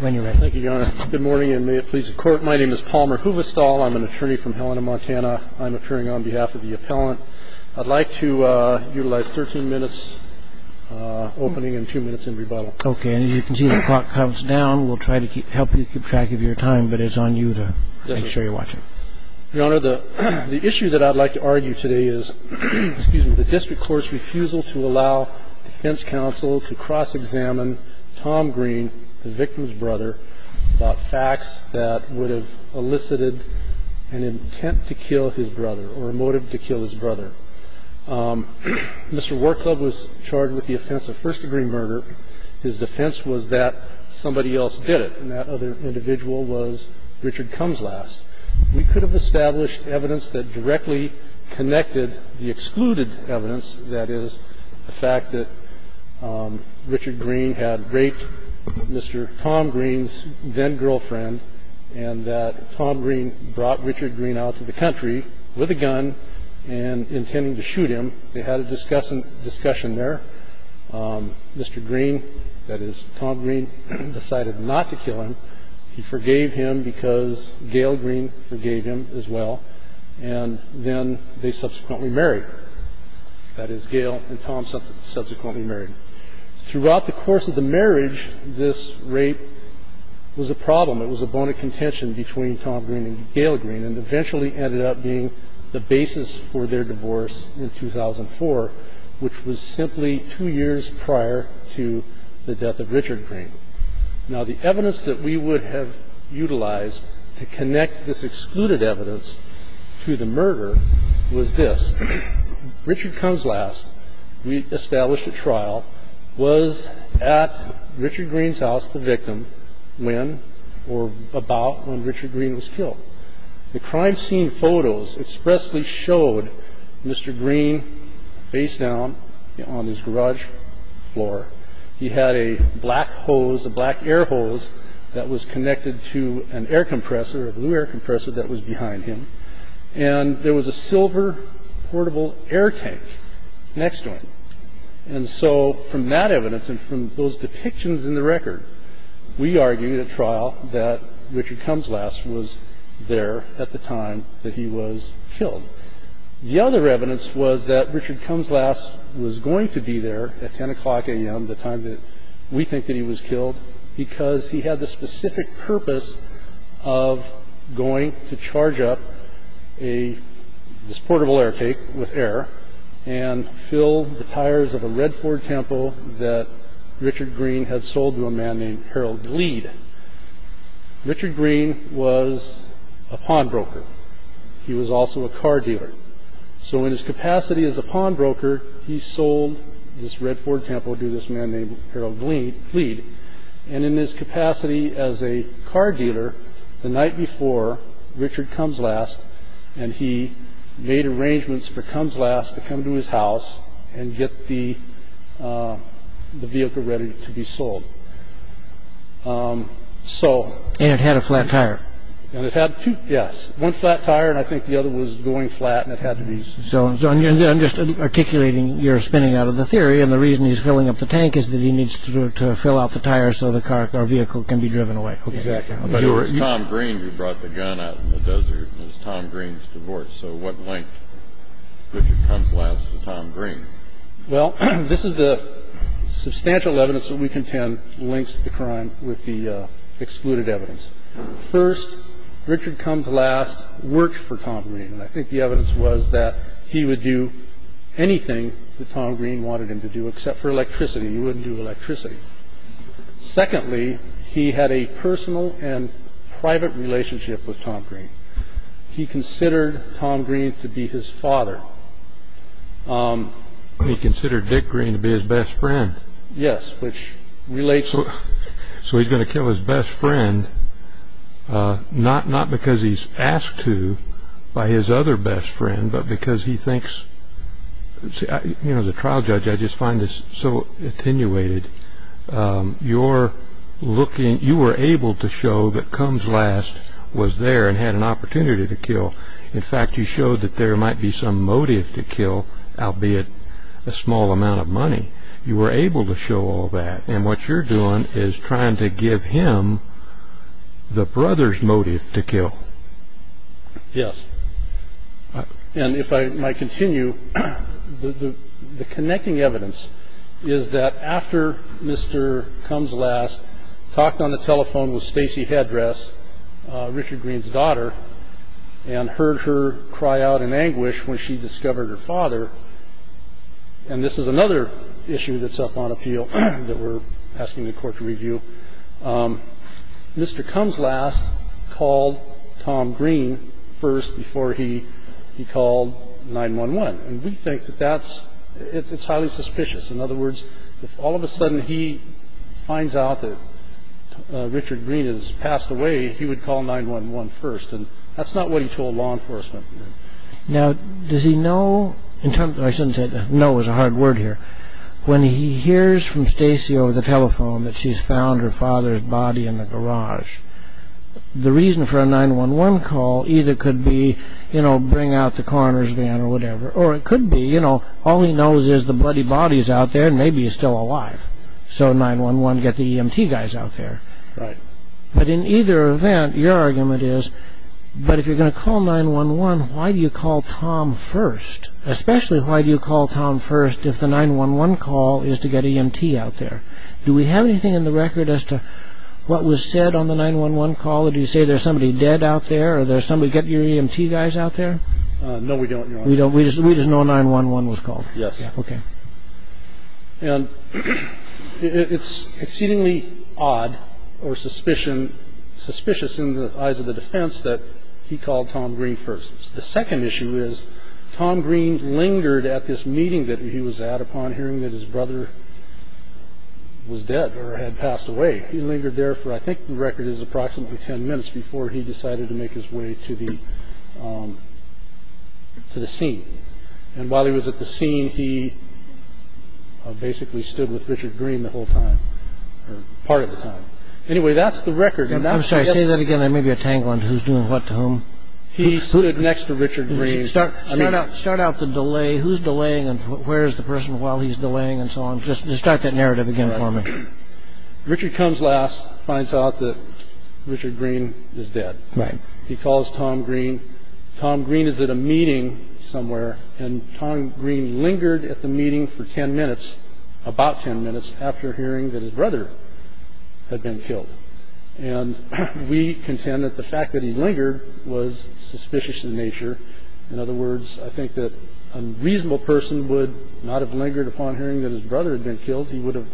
Good morning, and may it please the Court. My name is Palmer Huvestal. I'm an attorney from Helena, Montana. I'm appearing on behalf of the appellant. I'd like to utilize 13 minutes opening and 2 minutes in rebuttal. Okay, and as you can see, the clock comes down. We'll try to help you keep track of your time, but it's on you to make sure you're watching. Your Honor, the issue that I'd like to argue today is the District Court's refusal to allow Defense Counsel to cross-examine Tom Green, the victim's brother, about facts that would have elicited an intent to kill his brother or a motive to kill his brother. Mr. War Club was charged with the offense of first-degree murder. His defense was that somebody else did it, and that other individual was Richard Cumslast. We could have established evidence that directly connected the excluded evidence, that is, the fact that Richard Green had raped Mr. Tom Green's then-girlfriend and that Tom Green brought Richard Green out to the country with a gun and intending to shoot him. They had a discussion there. Mr. Green, that is, Tom Green, decided not to kill him. He forgave him because Gail Green forgave him as well, and then they subsequently married. That is, Gail and Tom subsequently married. Throughout the course of the marriage, this rape was a problem. It was a bone of contention between Tom Green and Gail Green and eventually ended up being the basis for their divorce in 2004, which was simply two years prior to the death of Richard Green. Now, the evidence that we would have utilized to connect this excluded evidence to the murder was this. Richard Cumslast, we established at trial, was at Richard Green's house, the victim, when or about when Richard Green was killed. The crime scene photos expressly showed Mr. Green face down on his garage floor. He had a black hose, a black air hose that was connected to an air compressor, a blue air compressor that was behind him. And there was a silver portable air tank next to him. And so from that evidence and from those depictions in the record, we argued at trial that Richard Cumslast was there at the time that he was killed. The other evidence was that Richard Cumslast was going to be there at 10 o'clock a.m., the time that we think that he was killed, because he had the specific purpose of going to charge up this portable air tank with air and fill the tires of a red Ford Tempo that Richard Green had sold to a man named Harold Glead. Richard Green was a pawnbroker. He was also a car dealer. So in his capacity as a pawnbroker, he sold this red Ford Tempo to this man named Harold Glead. And in his capacity as a car dealer, the night before Richard Cumslast, and he made arrangements for Cumslast to come to his house and get the vehicle ready to be sold. And it had a flat tire. And it had two, yes, one flat tire, and I think the other was going flat, and it had to be sold. So I'm just articulating your spinning out of the theory, and the reason he's filling up the tank is that he needs to fill out the tire so the car or vehicle can be driven away. Exactly. But it was Tom Green who brought the gun out in the desert. It was Tom Green's divorce. So what linked Richard Cumslast to Tom Green? Well, this is the substantial evidence that we contend links the crime with the excluded evidence. First, Richard Cumslast worked for Tom Green, and I think the evidence was that he would do anything that Tom Green wanted him to do except for electricity. He wouldn't do electricity. Secondly, he had a personal and private relationship with Tom Green. He considered Tom Green to be his father. He considered Dick Green to be his best friend. Yes, which relates. So he's going to kill his best friend, not because he's asked to by his other best friend, but because he thinks, you know, as a trial judge, I just find this so attenuated. You were able to show that Cumslast was there and had an opportunity to kill. In fact, you showed that there might be some motive to kill, albeit a small amount of money. You were able to show all that. And what you're doing is trying to give him the brother's motive to kill. Yes. And if I might continue, the connecting evidence is that after Mr. Cumslast talked on the telephone with Stacy Headress, Richard Green's daughter, and heard her cry out in anguish when she discovered her father, and this is another issue that's up on appeal that we're asking the Court to review. Mr. Cumslast called Tom Green first before he called 911. And we think that that's – it's highly suspicious. In other words, if all of a sudden he finds out that Richard Green has passed away, he would call 911 first. And that's not what he told law enforcement. Now, does he know – I shouldn't say that no is a hard word here. When he hears from Stacy over the telephone that she's found her father's body in the garage, the reason for a 911 call either could be, you know, bring out the coroner's van or whatever, or it could be, you know, all he knows is the bloody body's out there and maybe he's still alive. So 911, get the EMT guys out there. Right. But in either event, your argument is, but if you're going to call 911, why do you call Tom first? Especially why do you call Tom first if the 911 call is to get EMT out there? Do we have anything in the record as to what was said on the 911 call? Did he say there's somebody dead out there or there's somebody – get your EMT guys out there? No, we don't, Your Honor. We just know 911 was called? Yes. Okay. And it's exceedingly odd or suspicious in the eyes of the defense that he called Tom Green first. The second issue is Tom Green lingered at this meeting that he was at upon hearing that his brother was dead or had passed away. He lingered there for I think the record is approximately 10 minutes before he decided to make his way to the scene. And while he was at the scene, he basically stood with Richard Green the whole time, or part of the time. Anyway, that's the record. I'm sorry, say that again. I may be a tangling who's doing what to whom. He stood next to Richard Green. Start out the delay. Who's delaying and where is the person while he's delaying and so on? Just start that narrative again for me. Richard comes last, finds out that Richard Green is dead. He calls Tom Green. Tom Green is at a meeting somewhere, and Tom Green lingered at the meeting for 10 minutes, about 10 minutes, after hearing that his brother had been killed. And we contend that the fact that he lingered was suspicious in nature. In other words, I think that a reasonable person would not have lingered upon hearing that his brother had been killed. He would have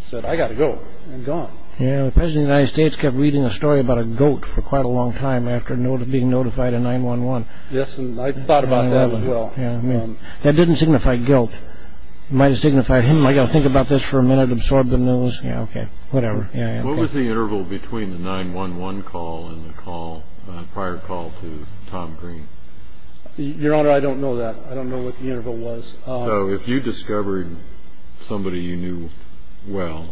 said, I got to go, and gone. The President of the United States kept reading a story about a goat for quite a long time after being notified of 911. Yes, and I thought about that as well. That didn't signify guilt. It might have signified, I got to think about this for a minute, absorb the news. Whatever. What was the interval between the 911 call and the prior call to Tom Green? Your Honor, I don't know that. I don't know what the interval was. So if you discovered somebody you knew, well,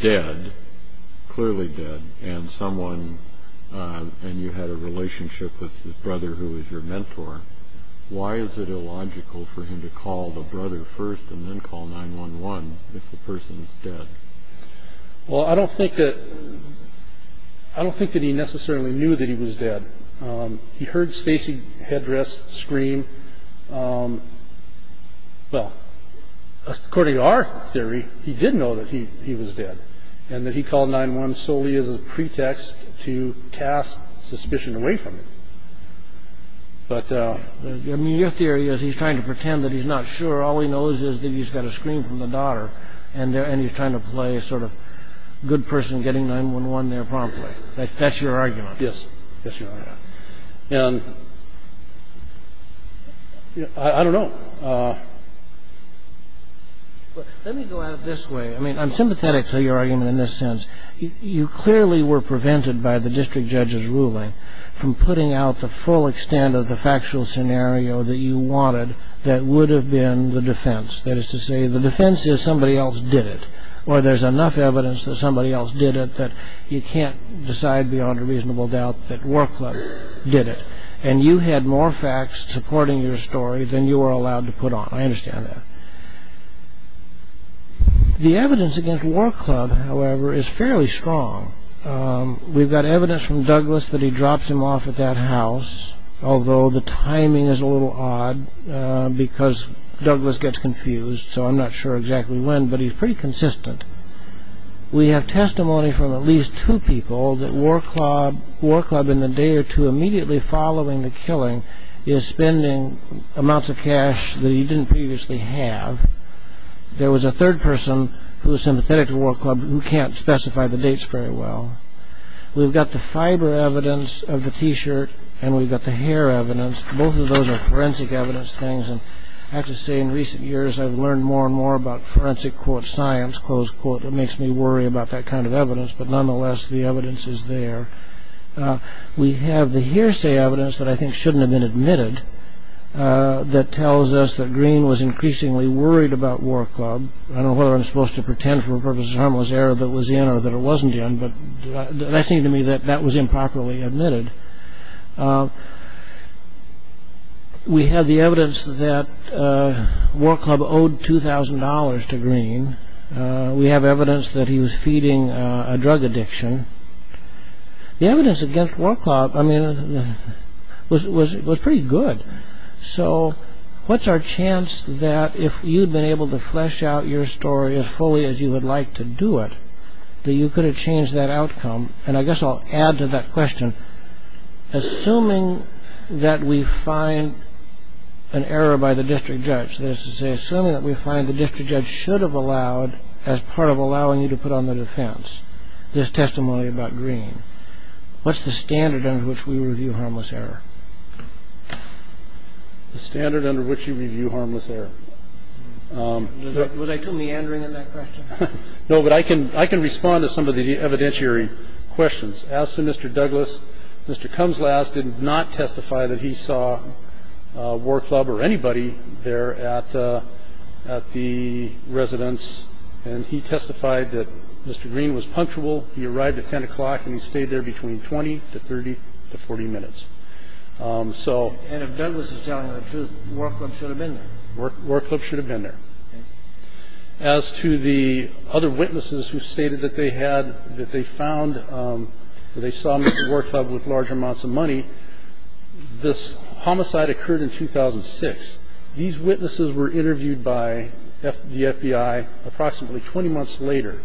dead, clearly dead, and you had a relationship with his brother who was your mentor, why is it illogical for him to call the brother first and then call 911 if the person is dead? Well, I don't think that he necessarily knew that he was dead. He heard Stacey Headress scream. Well, according to our theory, he did know that he was dead and that he called 911 solely as a pretext to cast suspicion away from him. Your theory is he's trying to pretend that he's not sure. All he knows is that he's got a scream from the daughter and he's trying to play a sort of good person getting 911 there promptly. That's your argument? Yes. Yes, Your Honor. I don't know. Let me go at it this way. I mean, I'm sympathetic to your argument in this sense. You clearly were prevented by the district judge's ruling from putting out the full extent of the factual scenario that you wanted that would have been the defense. That is to say, the defense is somebody else did it or there's enough evidence that somebody else did it that you can't decide beyond a reasonable doubt that War Club did it. And you had more facts supporting your story than you were allowed to put on. I understand that. The evidence against War Club, however, is fairly strong. We've got evidence from Douglas that he drops him off at that house, although the timing is a little odd because Douglas gets confused, so I'm not sure exactly when, but he's pretty consistent. We have testimony from at least two people that War Club, in the day or two immediately following the killing, is spending amounts of cash that he didn't previously have. There was a third person who was sympathetic to War Club who can't specify the dates very well. We've got the fiber evidence of the T-shirt, and we've got the hair evidence. Both of those are forensic evidence things, and I have to say in recent years I've learned more and more about forensic, quote, science, close quote. It makes me worry about that kind of evidence, but nonetheless the evidence is there. We have the hearsay evidence that I think shouldn't have been admitted that tells us that Green was increasingly worried about War Club. I don't know whether I'm supposed to pretend for purposes of harmless error that it was in or that it wasn't in, but that seemed to me that that was improperly admitted. We have the evidence that War Club owed $2,000 to Green. We have evidence that he was feeding a drug addiction. The evidence against War Club, I mean, was pretty good. So what's our chance that if you'd been able to flesh out your story as fully as you would like to do it, that you could have changed that outcome? And I guess I'll add to that question. Assuming that we find an error by the district judge, that is to say assuming that we find the district judge should have allowed, as part of allowing you to put on the defense, this testimony about Green, what's the standard under which we review harmless error? The standard under which you review harmless error. Was I too meandering in that question? No, but I can respond to some of the evidentiary questions. As to Mr. Douglas, Mr. Kumslaz did not testify that he saw War Club or anybody there at the residence. And he testified that Mr. Green was punctual. He arrived at 10 o'clock and he stayed there between 20 to 30 to 40 minutes. And if Douglas is telling the truth, War Club should have been there. War Club should have been there. As to the other witnesses who stated that they had, that they found, that they saw Mr. War Club with large amounts of money, this homicide occurred in 2006. These witnesses were interviewed by the FBI approximately 20 months later.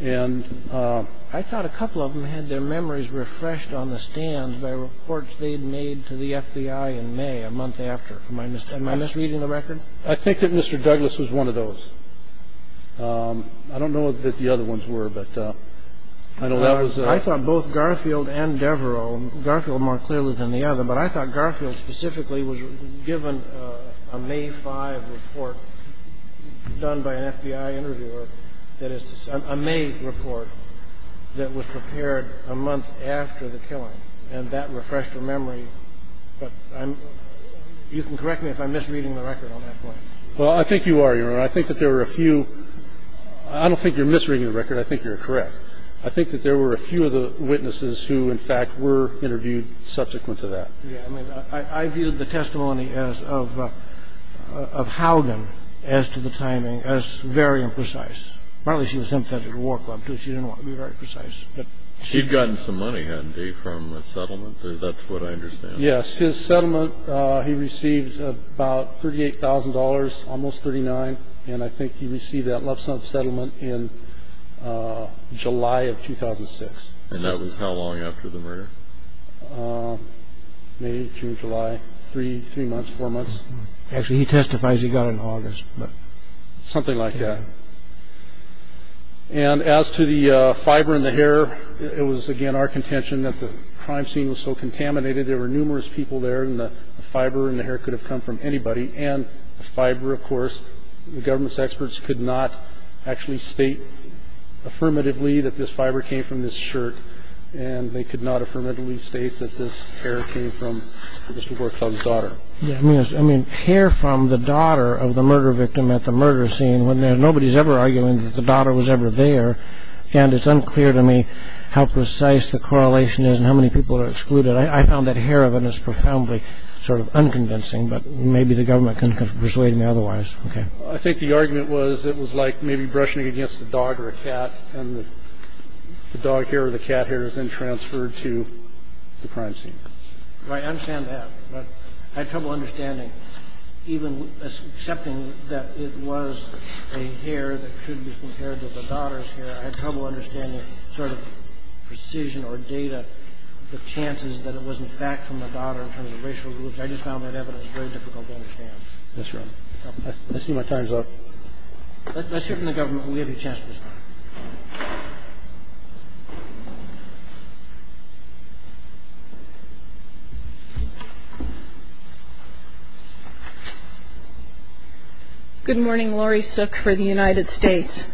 And I thought a couple of them had their memories refreshed on the stands by reports they had made to the FBI in May, a month after. Am I misreading the record? I think that Mr. Douglas was one of those. I don't know that the other ones were, but I know that was a ---- I thought both Garfield and Devereaux, Garfield more clearly than the other, but I thought Garfield specifically was given a May 5 report done by an FBI interviewer that is a May report that was prepared a month after the killing. And that refreshed her memory. You can correct me if I'm misreading the record on that point. Well, I think you are, Your Honor. I think that there were a few. I don't think you're misreading the record. I think you're correct. I think that there were a few of the witnesses who, in fact, were interviewed subsequent to that. Yeah. I mean, I viewed the testimony of Haugen as to the timing as very imprecise. Partly she was sympathetic to War Club, too. She didn't want to be very precise. She'd gotten some money, hadn't she, from the settlement? That's what I understand. Yes. His settlement, he received about $38,000, almost $39,000, and I think he received that love son settlement in July of 2006. And that was how long after the murder? May, June, July, three months, four months. Actually, he testifies he got it in August. Something like that. And as to the fiber in the hair, it was, again, our contention that the crime scene was so contaminated. There were numerous people there, and the fiber in the hair could have come from anybody. And the fiber, of course, the government's experts could not actually state affirmatively that this fiber came from this shirt, and they could not affirmatively state that this hair came from Mr. War Club's daughter. I mean, hair from the daughter of the murder victim at the murder scene, nobody's ever arguing that the daughter was ever there, and it's unclear to me how precise the correlation is and how many people are excluded. I found that hair of it is profoundly sort of unconvincing, but maybe the government can persuade me otherwise. I think the argument was it was like maybe brushing against a dog or a cat, and the dog hair or the cat hair is then transferred to the crime scene. Right. I understand that. But I have trouble understanding, even accepting that it was a hair that should be compared to the daughter's hair, I have trouble understanding sort of precision or data, the chances that it was, in fact, from the daughter in terms of racial groups. I just found that evidence very difficult to understand. That's right. I see my time's up. Let's hear from the government. We have a chance to respond. Good morning. Laurie Sook for the United States.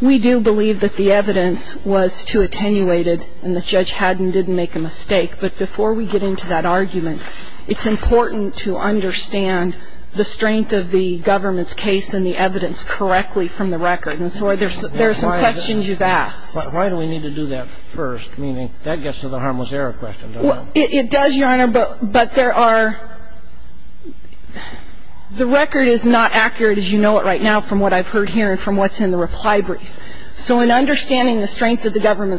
We do believe that the evidence was too attenuated and the judge had and didn't make a mistake, but before we get into that argument, it's important to understand the strength of the government's case in understanding the strength of the government's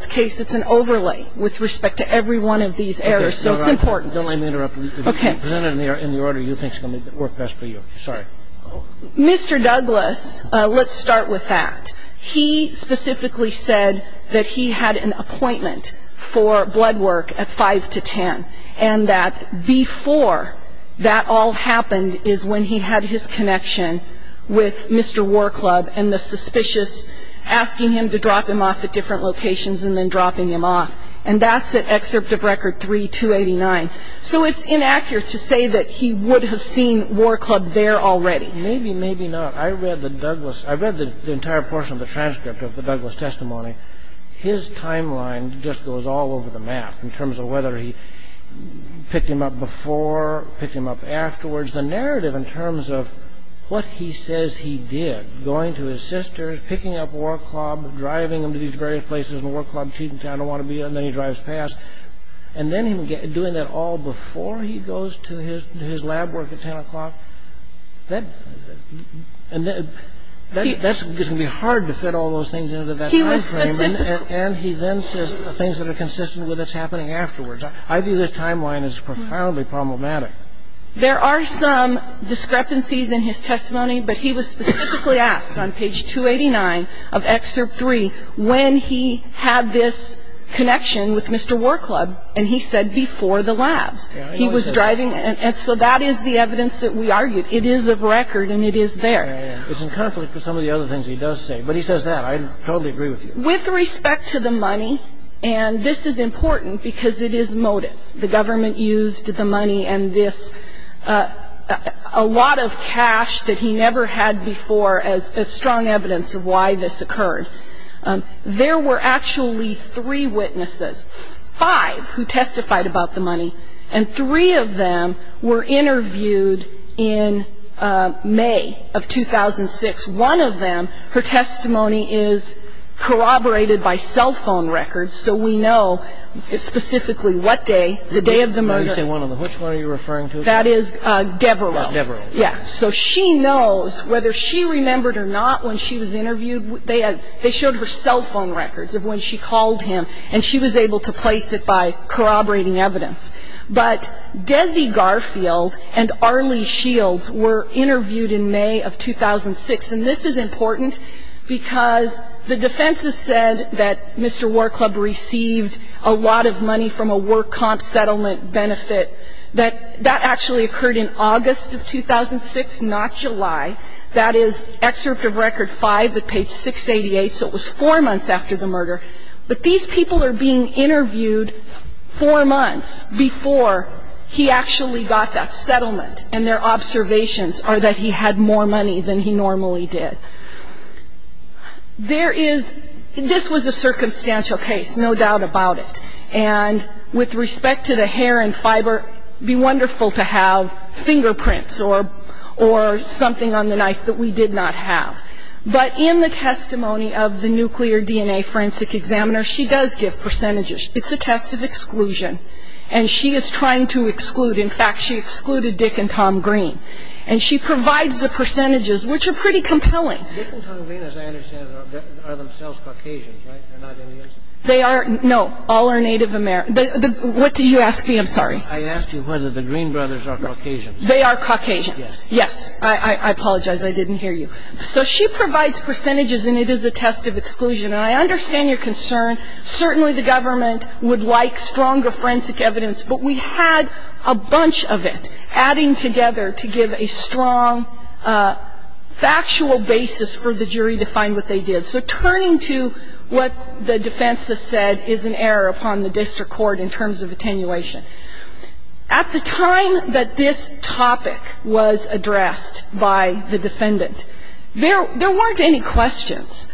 case. It's an overlay with respect to every one of these errors. So it's important. Don't let me interrupt you. Okay. If you can present it in the order you think is going to work best for you. It's an overlay with respect to every one of these errors. He specifically said that he had an appointment for blood work at 5 to 10, and that before that all happened is when he had his connection with Mr. War Club and the suspicious asking him to drop him off at different locations and then dropping him off. And that's at Excerpt of Record 3289. So it's inaccurate to say that he would have seen War Club there already. Maybe, maybe not. I read the entire portion of the transcript of the Douglas testimony. His timeline just goes all over the map in terms of whether he picked him up before, picked him up afterwards, the narrative in terms of what he says he did, going to his sister's, picking up War Club, driving him to these various places in War Club, Cheating Town, I don't want to be there, and then he drives past, and then him doing that all before he goes to his lab work at 10 o'clock. That's going to be hard to fit all those things into that time frame, and he then says things that are consistent with what's happening afterwards. I view this timeline as profoundly problematic. There are some discrepancies in his testimony, but he was specifically asked on page 289 of Excerpt 3 when he had this connection with Mr. War Club, and he said before the labs. And so that is the evidence that we argued. It is of record, and it is there. It's in conflict with some of the other things he does say, but he says that. I totally agree with you. With respect to the money, and this is important because it is motive. The government used the money and this, a lot of cash that he never had before, as strong evidence of why this occurred. There were actually three witnesses, five who testified about the money, and three of them were interviewed in May of 2006. One of them, her testimony is corroborated by cell phone records, so we know specifically what day, the day of the murder. Let me say one of them. Which one are you referring to? That is Devereaux. Devereaux. Yes. So she knows whether she remembered or not when she was interviewed. They showed her cell phone records of when she called him, and she was able to place it by corroborating evidence. But Desi Garfield and Arlie Shields were interviewed in May of 2006, and this is important because the defense has said that Mr. War Club received a lot of money from a work comp settlement benefit. That actually occurred in August of 2006, not July. That is excerpt of Record 5 at page 688, so it was four months after the murder. But these people are being interviewed four months before he actually got that settlement, and their observations are that he had more money than he normally did. There is this was a circumstantial case, no doubt about it. And with respect to the hair and fiber, it would be wonderful to have fingerprints or something on the knife that we did not have. But in the testimony of the nuclear DNA forensic examiner, she does give percentages. It's a test of exclusion, and she is trying to exclude. In fact, she excluded Dick and Tom Green. And she provides the percentages, which are pretty compelling. Dick and Tom Green, as I understand it, are themselves Caucasians, right? They're not Indians? They are. No. All are Native American. What did you ask me? I'm sorry. I asked you whether the Green brothers are Caucasians. They are Caucasians. Yes. Yes. I apologize. I didn't hear you. So she provides percentages, and it is a test of exclusion. And I understand your concern. Certainly the government would like stronger forensic evidence, but we had a bunch of it adding together to give a strong factual basis for the jury to find what they did. So turning to what the defense has said is an error upon the district court in terms of attenuation. At the time that this topic was addressed by the defendant, there weren't any questions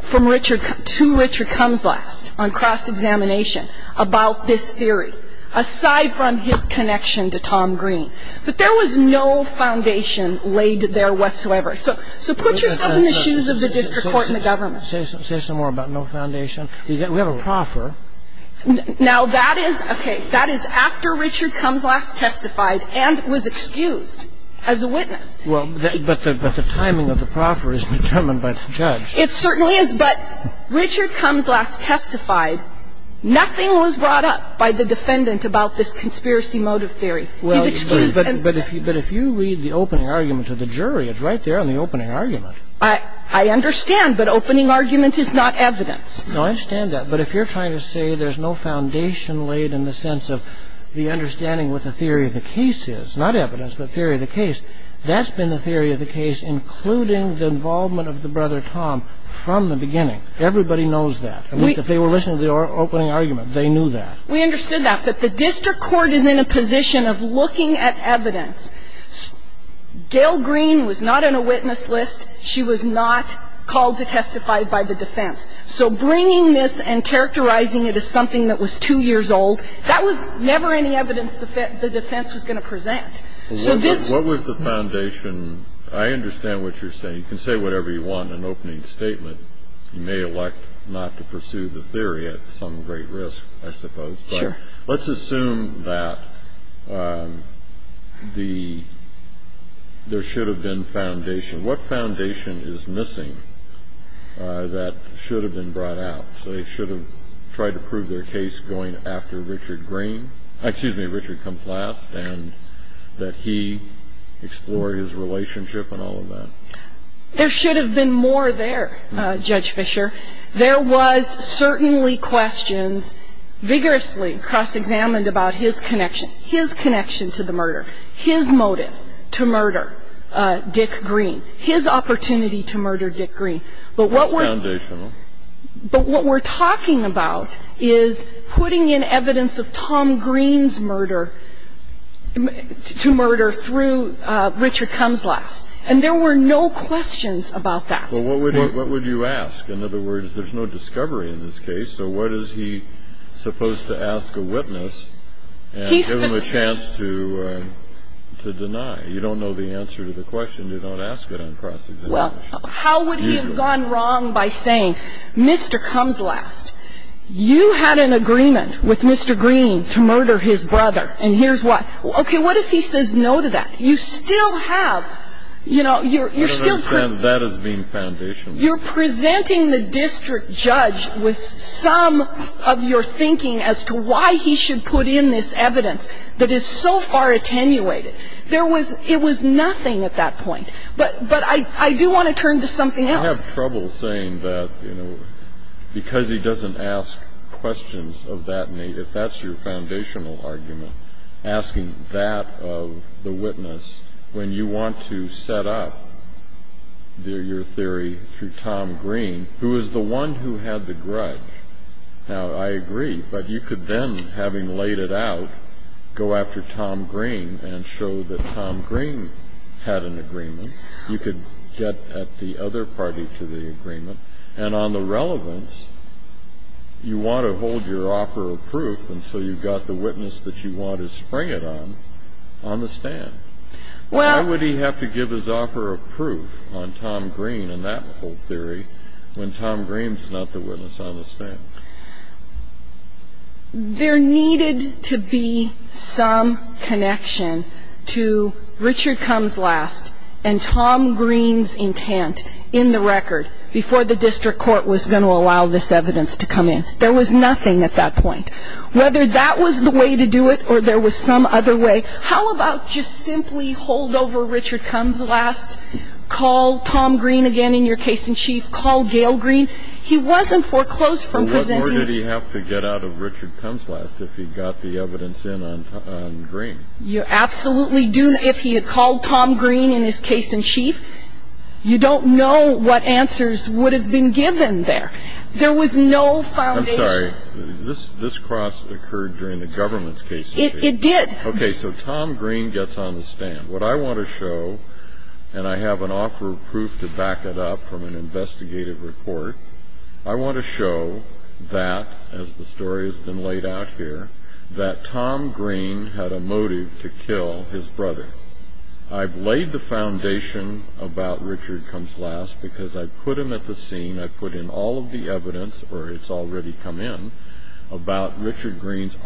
from Richard to Richard Kumslast on cross-examination about this theory, aside from his connection to Tom Green. But there was no foundation laid there whatsoever. So put yourself in the shoes of the district court and the government. Say some more about no foundation. We have a proffer. Now, that is, okay, that is after Richard Kumslast testified and was excused as a witness. Well, but the timing of the proffer is determined by the judge. It certainly is. But Richard Kumslast testified. Nothing was brought up by the defendant about this conspiracy motive theory. He's excused. But if you read the opening argument to the jury, it's right there on the opening argument. I understand. But opening argument is not evidence. No, I understand that. But if you're trying to say there's no foundation laid in the sense of the understanding what the theory of the case is, not evidence, but theory of the case, that's been the theory of the case including the involvement of the brother Tom from the beginning. Everybody knows that. If they were listening to the opening argument, they knew that. We understood that. But the district court is in a position of looking at evidence. Gail Green was not on a witness list. She was not called to testify by the defense. So bringing this and characterizing it as something that was 2 years old, that was never any evidence the defense was going to present. So this was the foundation. I understand what you're saying. You can say whatever you want in an opening statement. You may elect not to pursue the theory at some great risk, I suppose. Sure. But let's assume that there should have been foundation. What foundation is missing that should have been brought out? They should have tried to prove their case going after Richard Green, excuse me, Richard Kumplast, and that he explore his relationship and all of that. There should have been more there, Judge Fisher. There was certainly questions vigorously cross-examined about his connection, his connection to the murder, his motive to murder Dick Green, his opportunity to murder Dick Green. But what we're talking about is putting in evidence of Tom Green's murder, to murder through Richard Kumplast. And there were no questions about that. Well, what would you ask? In other words, there's no discovery in this case. So what is he supposed to ask a witness? And give him a chance to deny. You don't know the answer to the question. You don't ask it on cross-examination. Well, how would he have gone wrong by saying, Mr. Kumplast, you had an agreement with Mr. Green to murder his brother, and here's what. Okay, what if he says no to that? You still have, you know, you're still present. That is being foundational. You're presenting the district judge with some of your thinking as to why he should put in this evidence that is so far attenuated. There was ‑‑ it was nothing at that point. But I do want to turn to something else. I have trouble saying that, you know, because he doesn't ask questions of that, if that's your foundational argument, asking that of the witness, when you want to set up your theory through Tom Green, who is the one who had the grudge. Now, I agree, but you could then, having laid it out, go after Tom Green and show that Tom Green had an agreement. You could get at the other party to the agreement. And on the relevance, you want to hold your offer of proof until you've got the witness that you want to spring it on on the stand. Why would he have to give his offer of proof on Tom Green and that whole theory when Tom Green is not the witness on the stand? There needed to be some connection to Richard Cumm's last and Tom Green's intent in the record before the district court was going to allow this evidence to come in. There was nothing at that point. Whether that was the way to do it or there was some other way, how about just simply hold over Richard Cumm's last, call Tom Green again in your case in chief, call Gail Green? He wasn't foreclosed from presenting. But what more did he have to get out of Richard Cumm's last if he got the evidence in on Green? You absolutely do. If he had called Tom Green in his case in chief, you don't know what answers would have been given there. There was no foundation. I'm sorry. This cross occurred during the government's case in chief. Okay, so Tom Green gets on the stand. What I want to show, and I have an offer of proof to back it up from an investigative report, I want to show that, as the story has been laid out here, that Tom Green had a motive to kill his brother. I've laid the foundation about Richard Cumm's last because I've put him at the scene, I've put in all of the evidence, or it's already come in, about Richard Cumm's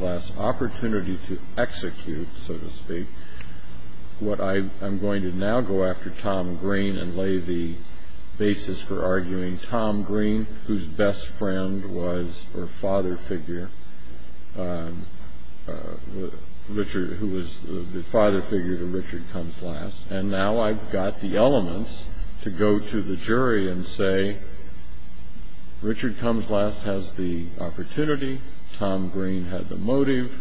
last opportunity to execute, so to speak. I'm going to now go after Tom Green and lay the basis for arguing Tom Green, whose best friend was or father figure, who was the father figure to Richard Cumm's last. And now I've got the elements to go to the jury and say, Richard Cumm's last has the opportunity. Tom Green had the motive.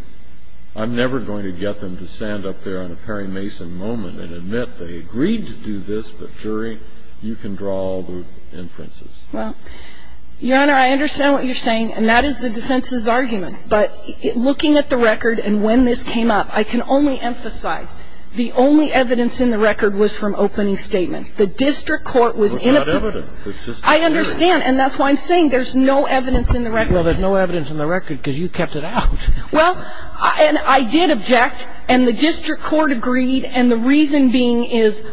I'm never going to get them to stand up there on a Perry Mason moment and admit they agreed to do this. But, jury, you can draw all the inferences. Well, Your Honor, I understand what you're saying, and that is the defense's argument. But looking at the record and when this came up, I can only emphasize the only evidence in the record was from opening statement. The district court was in a group. It was not evidence. I understand, and that's why I'm saying there's no evidence in the record. Well, there's no evidence in the record because you kept it out. Well, and I did object, and the district court agreed, and the reason being is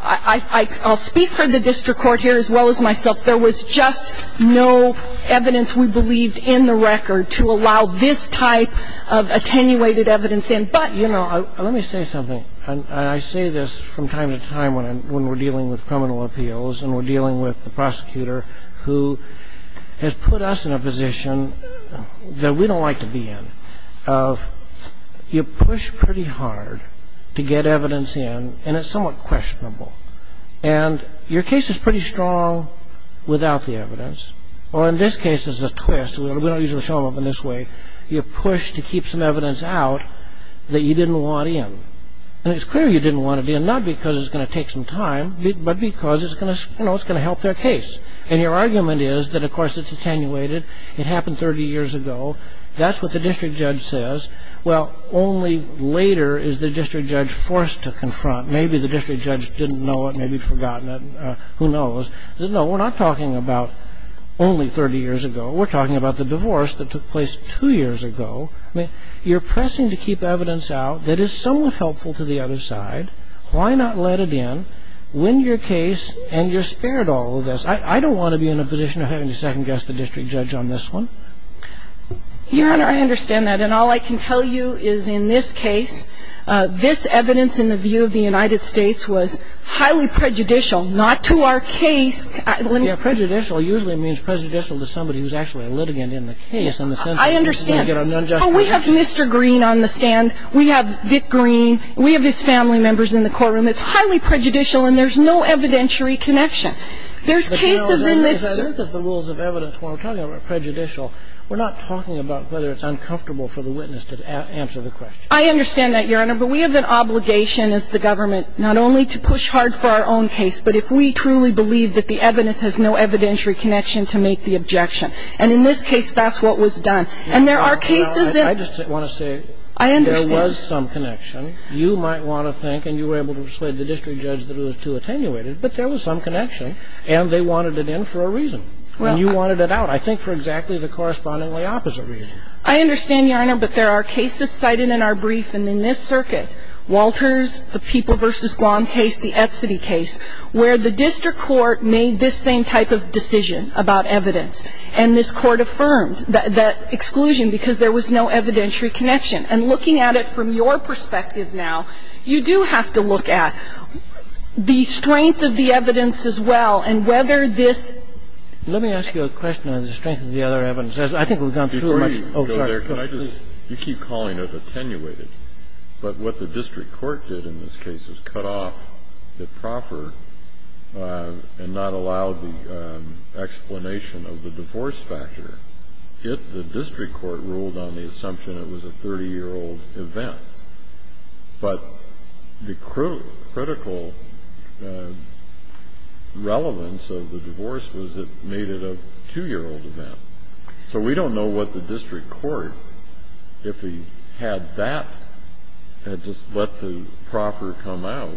I'll speak for the district court here as well as myself. There was just no evidence we believed in the record to allow this type of attenuated evidence in. But, you know, let me say something. I say this from time to time when we're dealing with criminal appeals and we're dealing with the prosecutor who has put us in a position that we don't like to be in, of you push pretty hard to get evidence in, and it's somewhat questionable. And your case is pretty strong without the evidence. Well, in this case it's a twist. We don't usually show them in this way. You push to keep some evidence out that you didn't want in. And it's clear you didn't want to be in, not because it's going to take some time, but because it's going to help their case. And your argument is that, of course, it's attenuated. It happened 30 years ago. That's what the district judge says. Well, only later is the district judge forced to confront. Maybe the district judge didn't know it. Maybe he'd forgotten it. Who knows? No, we're not talking about only 30 years ago. We're talking about the divorce that took place two years ago. I mean, you're pressing to keep evidence out that is somewhat helpful to the other side. Why not let it in, win your case, and you're spared all of this? I don't want to be in a position of having to second-guess the district judge on this one. Your Honor, I understand that. And all I can tell you is in this case, this evidence in the view of the United States was highly prejudicial, not to our case. Yeah, prejudicial usually means prejudicial to somebody who's actually a litigant in the case. I understand. We have Mr. Green on the stand. We have Dick Green. We have his family members in the courtroom. It's highly prejudicial, and there's no evidentiary connection. There's cases in this. The rules of evidence, when we're talking about prejudicial, we're not talking about whether it's uncomfortable for the witness to answer the question. I understand that, Your Honor. But we have an obligation as the government not only to push hard for our own case, but if we truly believe that the evidence has no evidentiary connection to make the objection. And in this case, that's what was done. And there are cases that ---- I just want to say ---- I understand. There was some connection. You might want to think, and you were able to persuade the district judge that it was too attenuated, but there was some connection, and they wanted it in for a reason. And you wanted it out, I think, for exactly the correspondingly opposite reason. I understand, Your Honor. But there are cases cited in our brief. And in this circuit, Walters, the People v. Guam case, the Etcity case, where the district court made this same type of decision about evidence, and this court affirmed that exclusion because there was no evidentiary connection. And looking at it from your perspective now, you do have to look at the strength of the evidence as well and whether this ---- Let me ask you a question on the strength of the other evidence. I think we've gone through much. Oh, sorry. Can I just ---- You keep calling it attenuated. But what the district court did in this case is cut off the proffer and not allow the explanation of the divorce factor. It, the district court, ruled on the assumption it was a 30-year-old event. But the critical relevance of the divorce was it made it a 2-year-old event. So we don't know what the district court, if he had that, had just let the proffer come out,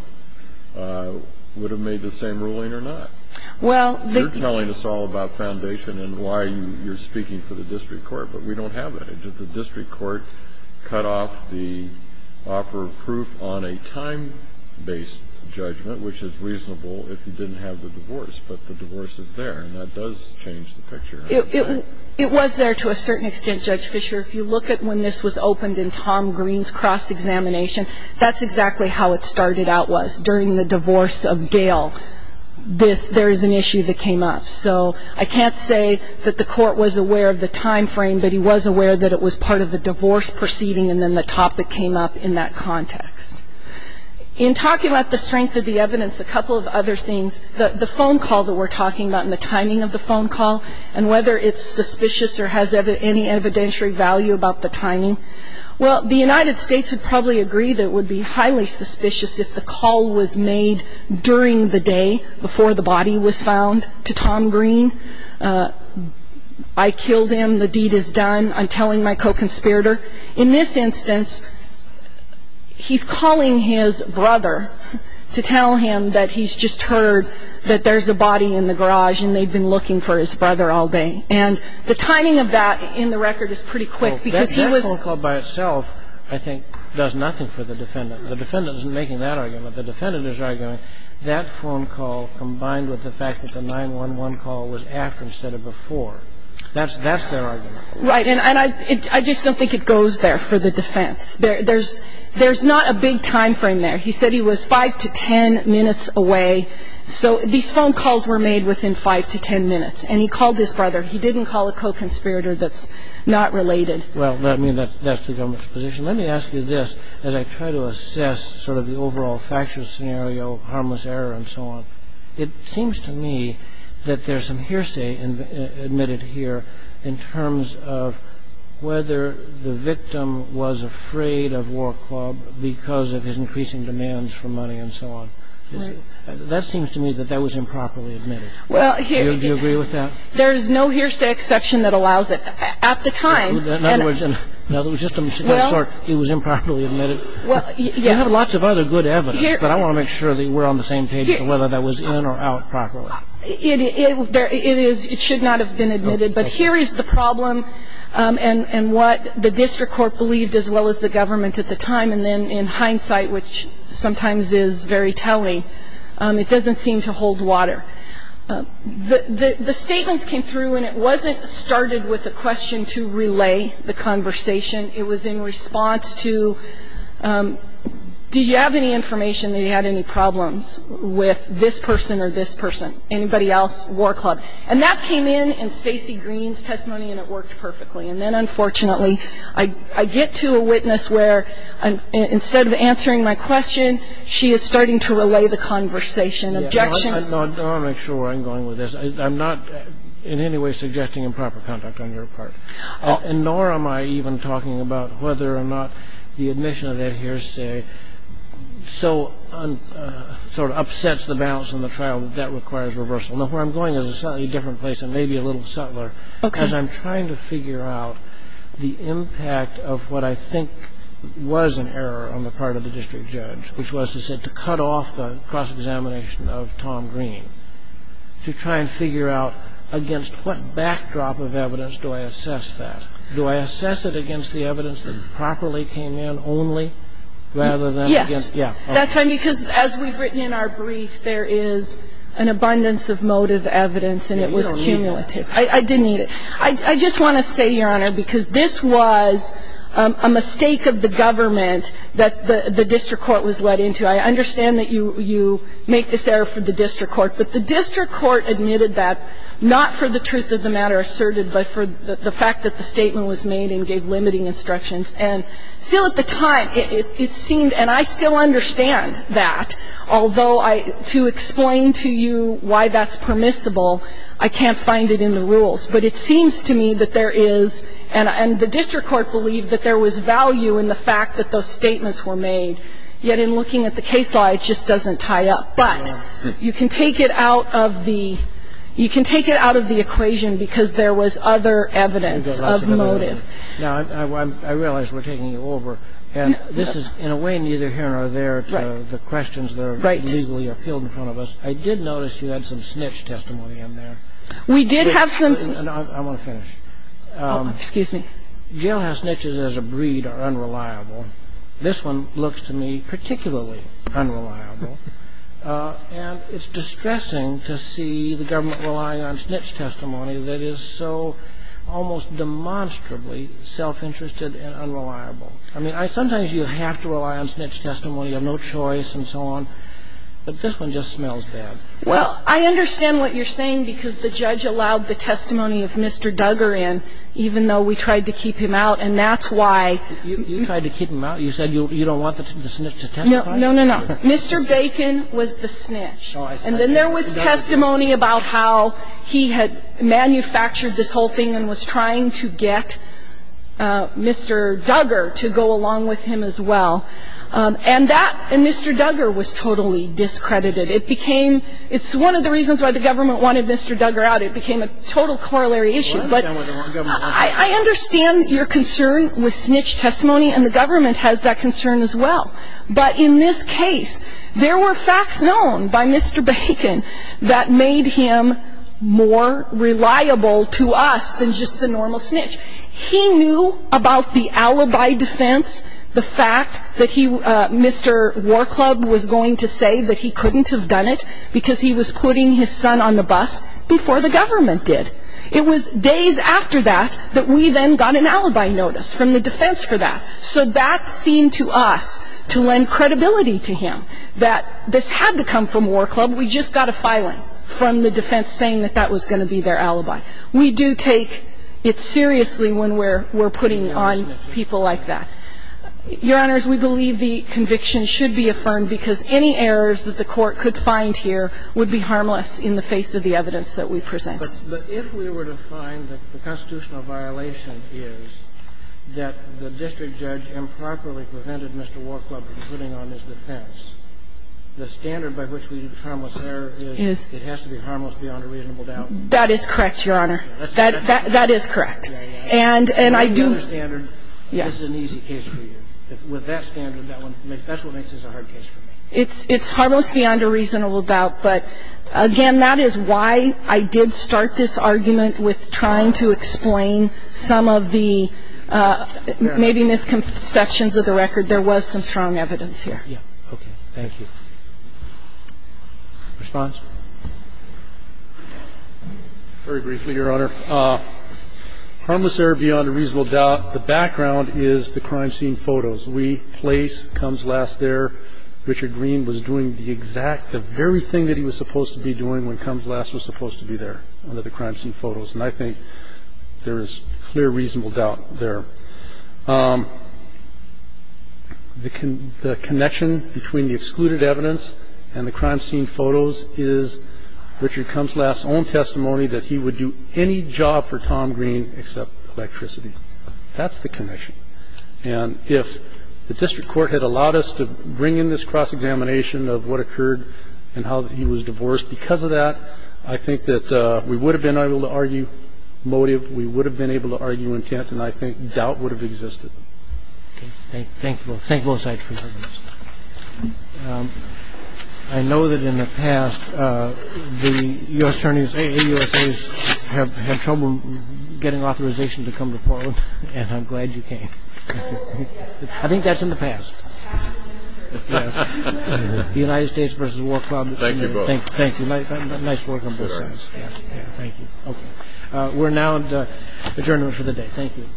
would have made the same ruling or not. Well, the ---- You're telling us all about foundation and why you're speaking for the district court, but we don't have that. Did the district court cut off the offer of proof on a time-based judgment, which is reasonable if you didn't have the divorce? But the divorce is there, and that does change the picture. It was there to a certain extent, Judge Fischer. If you look at when this was opened in Tom Green's cross-examination, that's exactly how it started out, was during the divorce of Gail, there is an issue that came up. So I can't say that the court was aware of the time frame, but he was aware that it was part of a divorce proceeding, and then the topic came up in that context. In talking about the strength of the evidence, a couple of other things, the phone call that we're talking about and the timing of the phone call and whether it's suspicious or has any evidentiary value about the timing. Well, the United States would probably agree that it would be highly suspicious if the call was made during the day before the body was found to Tom Green. I killed him. The deed is done. I'm telling my co-conspirator. In this instance, he's calling his brother to tell him that he's just heard that there's a body in the garage and they've been looking for his brother all day. And the timing of that in the record is pretty quick because he was. That phone call by itself, I think, does nothing for the defendant. The defendant isn't making that argument. The defendant is arguing that phone call combined with the fact that the 911 call was after instead of before. That's their argument. Right. And I just don't think it goes there for the defense. There's not a big time frame there. He said he was 5 to 10 minutes away. So these phone calls were made within 5 to 10 minutes. And he called his brother. He didn't call a co-conspirator that's not related. Well, that's the government's position. Let me ask you this. As I try to assess sort of the overall factual scenario, harmless error and so on, it seems to me that there's some hearsay admitted here in terms of whether the victim was afraid of War Club because of his increasing demands for money and so on. That seems to me that that was improperly admitted. Well, here you go. Do you agree with that? There's no hearsay exception that allows it. At the time. In other words, just in short, it was improperly admitted. Well, yes. You have lots of other good evidence, but I want to make sure that we're on the same page as to whether that was in or out properly. It is. It should not have been admitted. But here is the problem and what the district court believed as well as the government at the time. And then in hindsight, which sometimes is very telling, it doesn't seem to hold water. The statements came through and it wasn't started with a question to relay the conversation. It was in response to do you have any information that you had any problems with this person or this person, anybody else, War Club. And that came in in Stacey Green's testimony and it worked perfectly. And then unfortunately, I get to a witness where instead of answering my question, she is starting to relay the conversation. Objection. I want to make sure where I'm going with this. I'm not in any way suggesting improper conduct on your part. Nor am I even talking about whether or not the admission of that hearsay sort of upsets the balance in the trial that that requires reversal. Now, where I'm going is a slightly different place and maybe a little subtler. Okay. And I'm trying to figure out the impact of what I think was an error on the part of the district judge, which was to say to cut off the cross-examination of Tom Green, to try and figure out against what backdrop of evidence do I assess that. Do I assess it against the evidence that properly came in only rather than against. Yes. That's right, because as we've written in our brief, there is an abundance of motive evidence and it was cumulative. I didn't need it. I just want to say, Your Honor, because this was a mistake of the government that the district court was led into. I understand that you make this error for the district court, but the district court admitted that not for the truth of the matter asserted, but for the fact that the statement was made and gave limiting instructions. And still at the time it seemed, and I still understand that, although to explain to you why that's permissible, I can't find it in the rules. But it seems to me that there is, and the district court believed that there was value in the fact that those statements were made. Yet in looking at the case law, it just doesn't tie up. But you can take it out of the equation because there was other evidence of motive. Now, I realize we're taking you over. And this is, in a way, neither here nor there to the questions that are legally appealed in front of us. I did notice you had some snitch testimony in there. We did have some. I want to finish. Excuse me. Jailhouse snitches as a breed are unreliable. This one looks to me particularly unreliable. And it's distressing to see the government relying on snitch testimony that is so almost demonstrably self-interested and unreliable. I mean, sometimes you have to rely on snitch testimony. You have no choice and so on. But this one just smells bad. Well, I understand what you're saying because the judge allowed the testimony of Mr. Duggar in, even though we tried to keep him out. And that's why you tried to keep him out. You said you don't want the snitch to testify? No, no, no, no. Mr. Bacon was the snitch. And then there was testimony about how he had manufactured this whole thing and was trying to get Mr. Duggar to go along with him as well. And that Mr. Duggar was totally discredited. It became one of the reasons why the government wanted Mr. Duggar out. It became a total corollary issue. I understand your concern with snitch testimony, and the government has that concern as well. But in this case, there were facts known by Mr. Bacon that made him more reliable to us than just the normal snitch. He knew about the alibi defense, the fact that Mr. War Club was going to say that he couldn't have done it because he was putting his son on the bus before the government did. It was days after that that we then got an alibi notice from the defense for that. So that seemed to us to lend credibility to him, that this had to come from War Club. We just got a filing from the defense saying that that was going to be their alibi. We do take it seriously when we're putting on people like that. Your Honors, we believe the conviction should be affirmed because any errors that the defense could find here would be harmless in the face of the evidence that we present. But if we were to find that the constitutional violation is that the district judge improperly prevented Mr. War Club from putting on his defense, the standard by which we use harmless error is it has to be harmless beyond a reasonable doubt? That is correct, Your Honor. That is correct. And I do – By another standard, this is an easy case for you. With that standard, that's what makes this a hard case for me. It's harmless beyond a reasonable doubt. But, again, that is why I did start this argument with trying to explain some of the maybe misconceptions of the record. There was some strong evidence here. Okay. Thank you. Response? Very briefly, Your Honor. Harmless error beyond a reasonable doubt. The background is the crime scene photos. We place Combs Last there. Richard Green was doing the exact – the very thing that he was supposed to be doing when Combs Last was supposed to be there under the crime scene photos. And I think there is clear reasonable doubt there. The connection between the excluded evidence and the crime scene photos is Richard Combs Last's own testimony that he would do any job for Tom Green except electricity. That's the connection. And if the district court had allowed us to bring in this cross-examination of what occurred and how he was divorced because of that, I think that we would have been able to argue motive, we would have been able to argue intent, and I think doubt would have existed. Okay. Thank you both. Thank you both sides for your testimony. I know that in the past the U.S. attorneys, AAUSAs, have trouble getting authorization to come to court, and I'm glad you came. I think that's in the past. The United States versus the War Club. Thank you both. Thank you. Nice work on both sides. Thank you. We're now adjourned for the day. Thank you.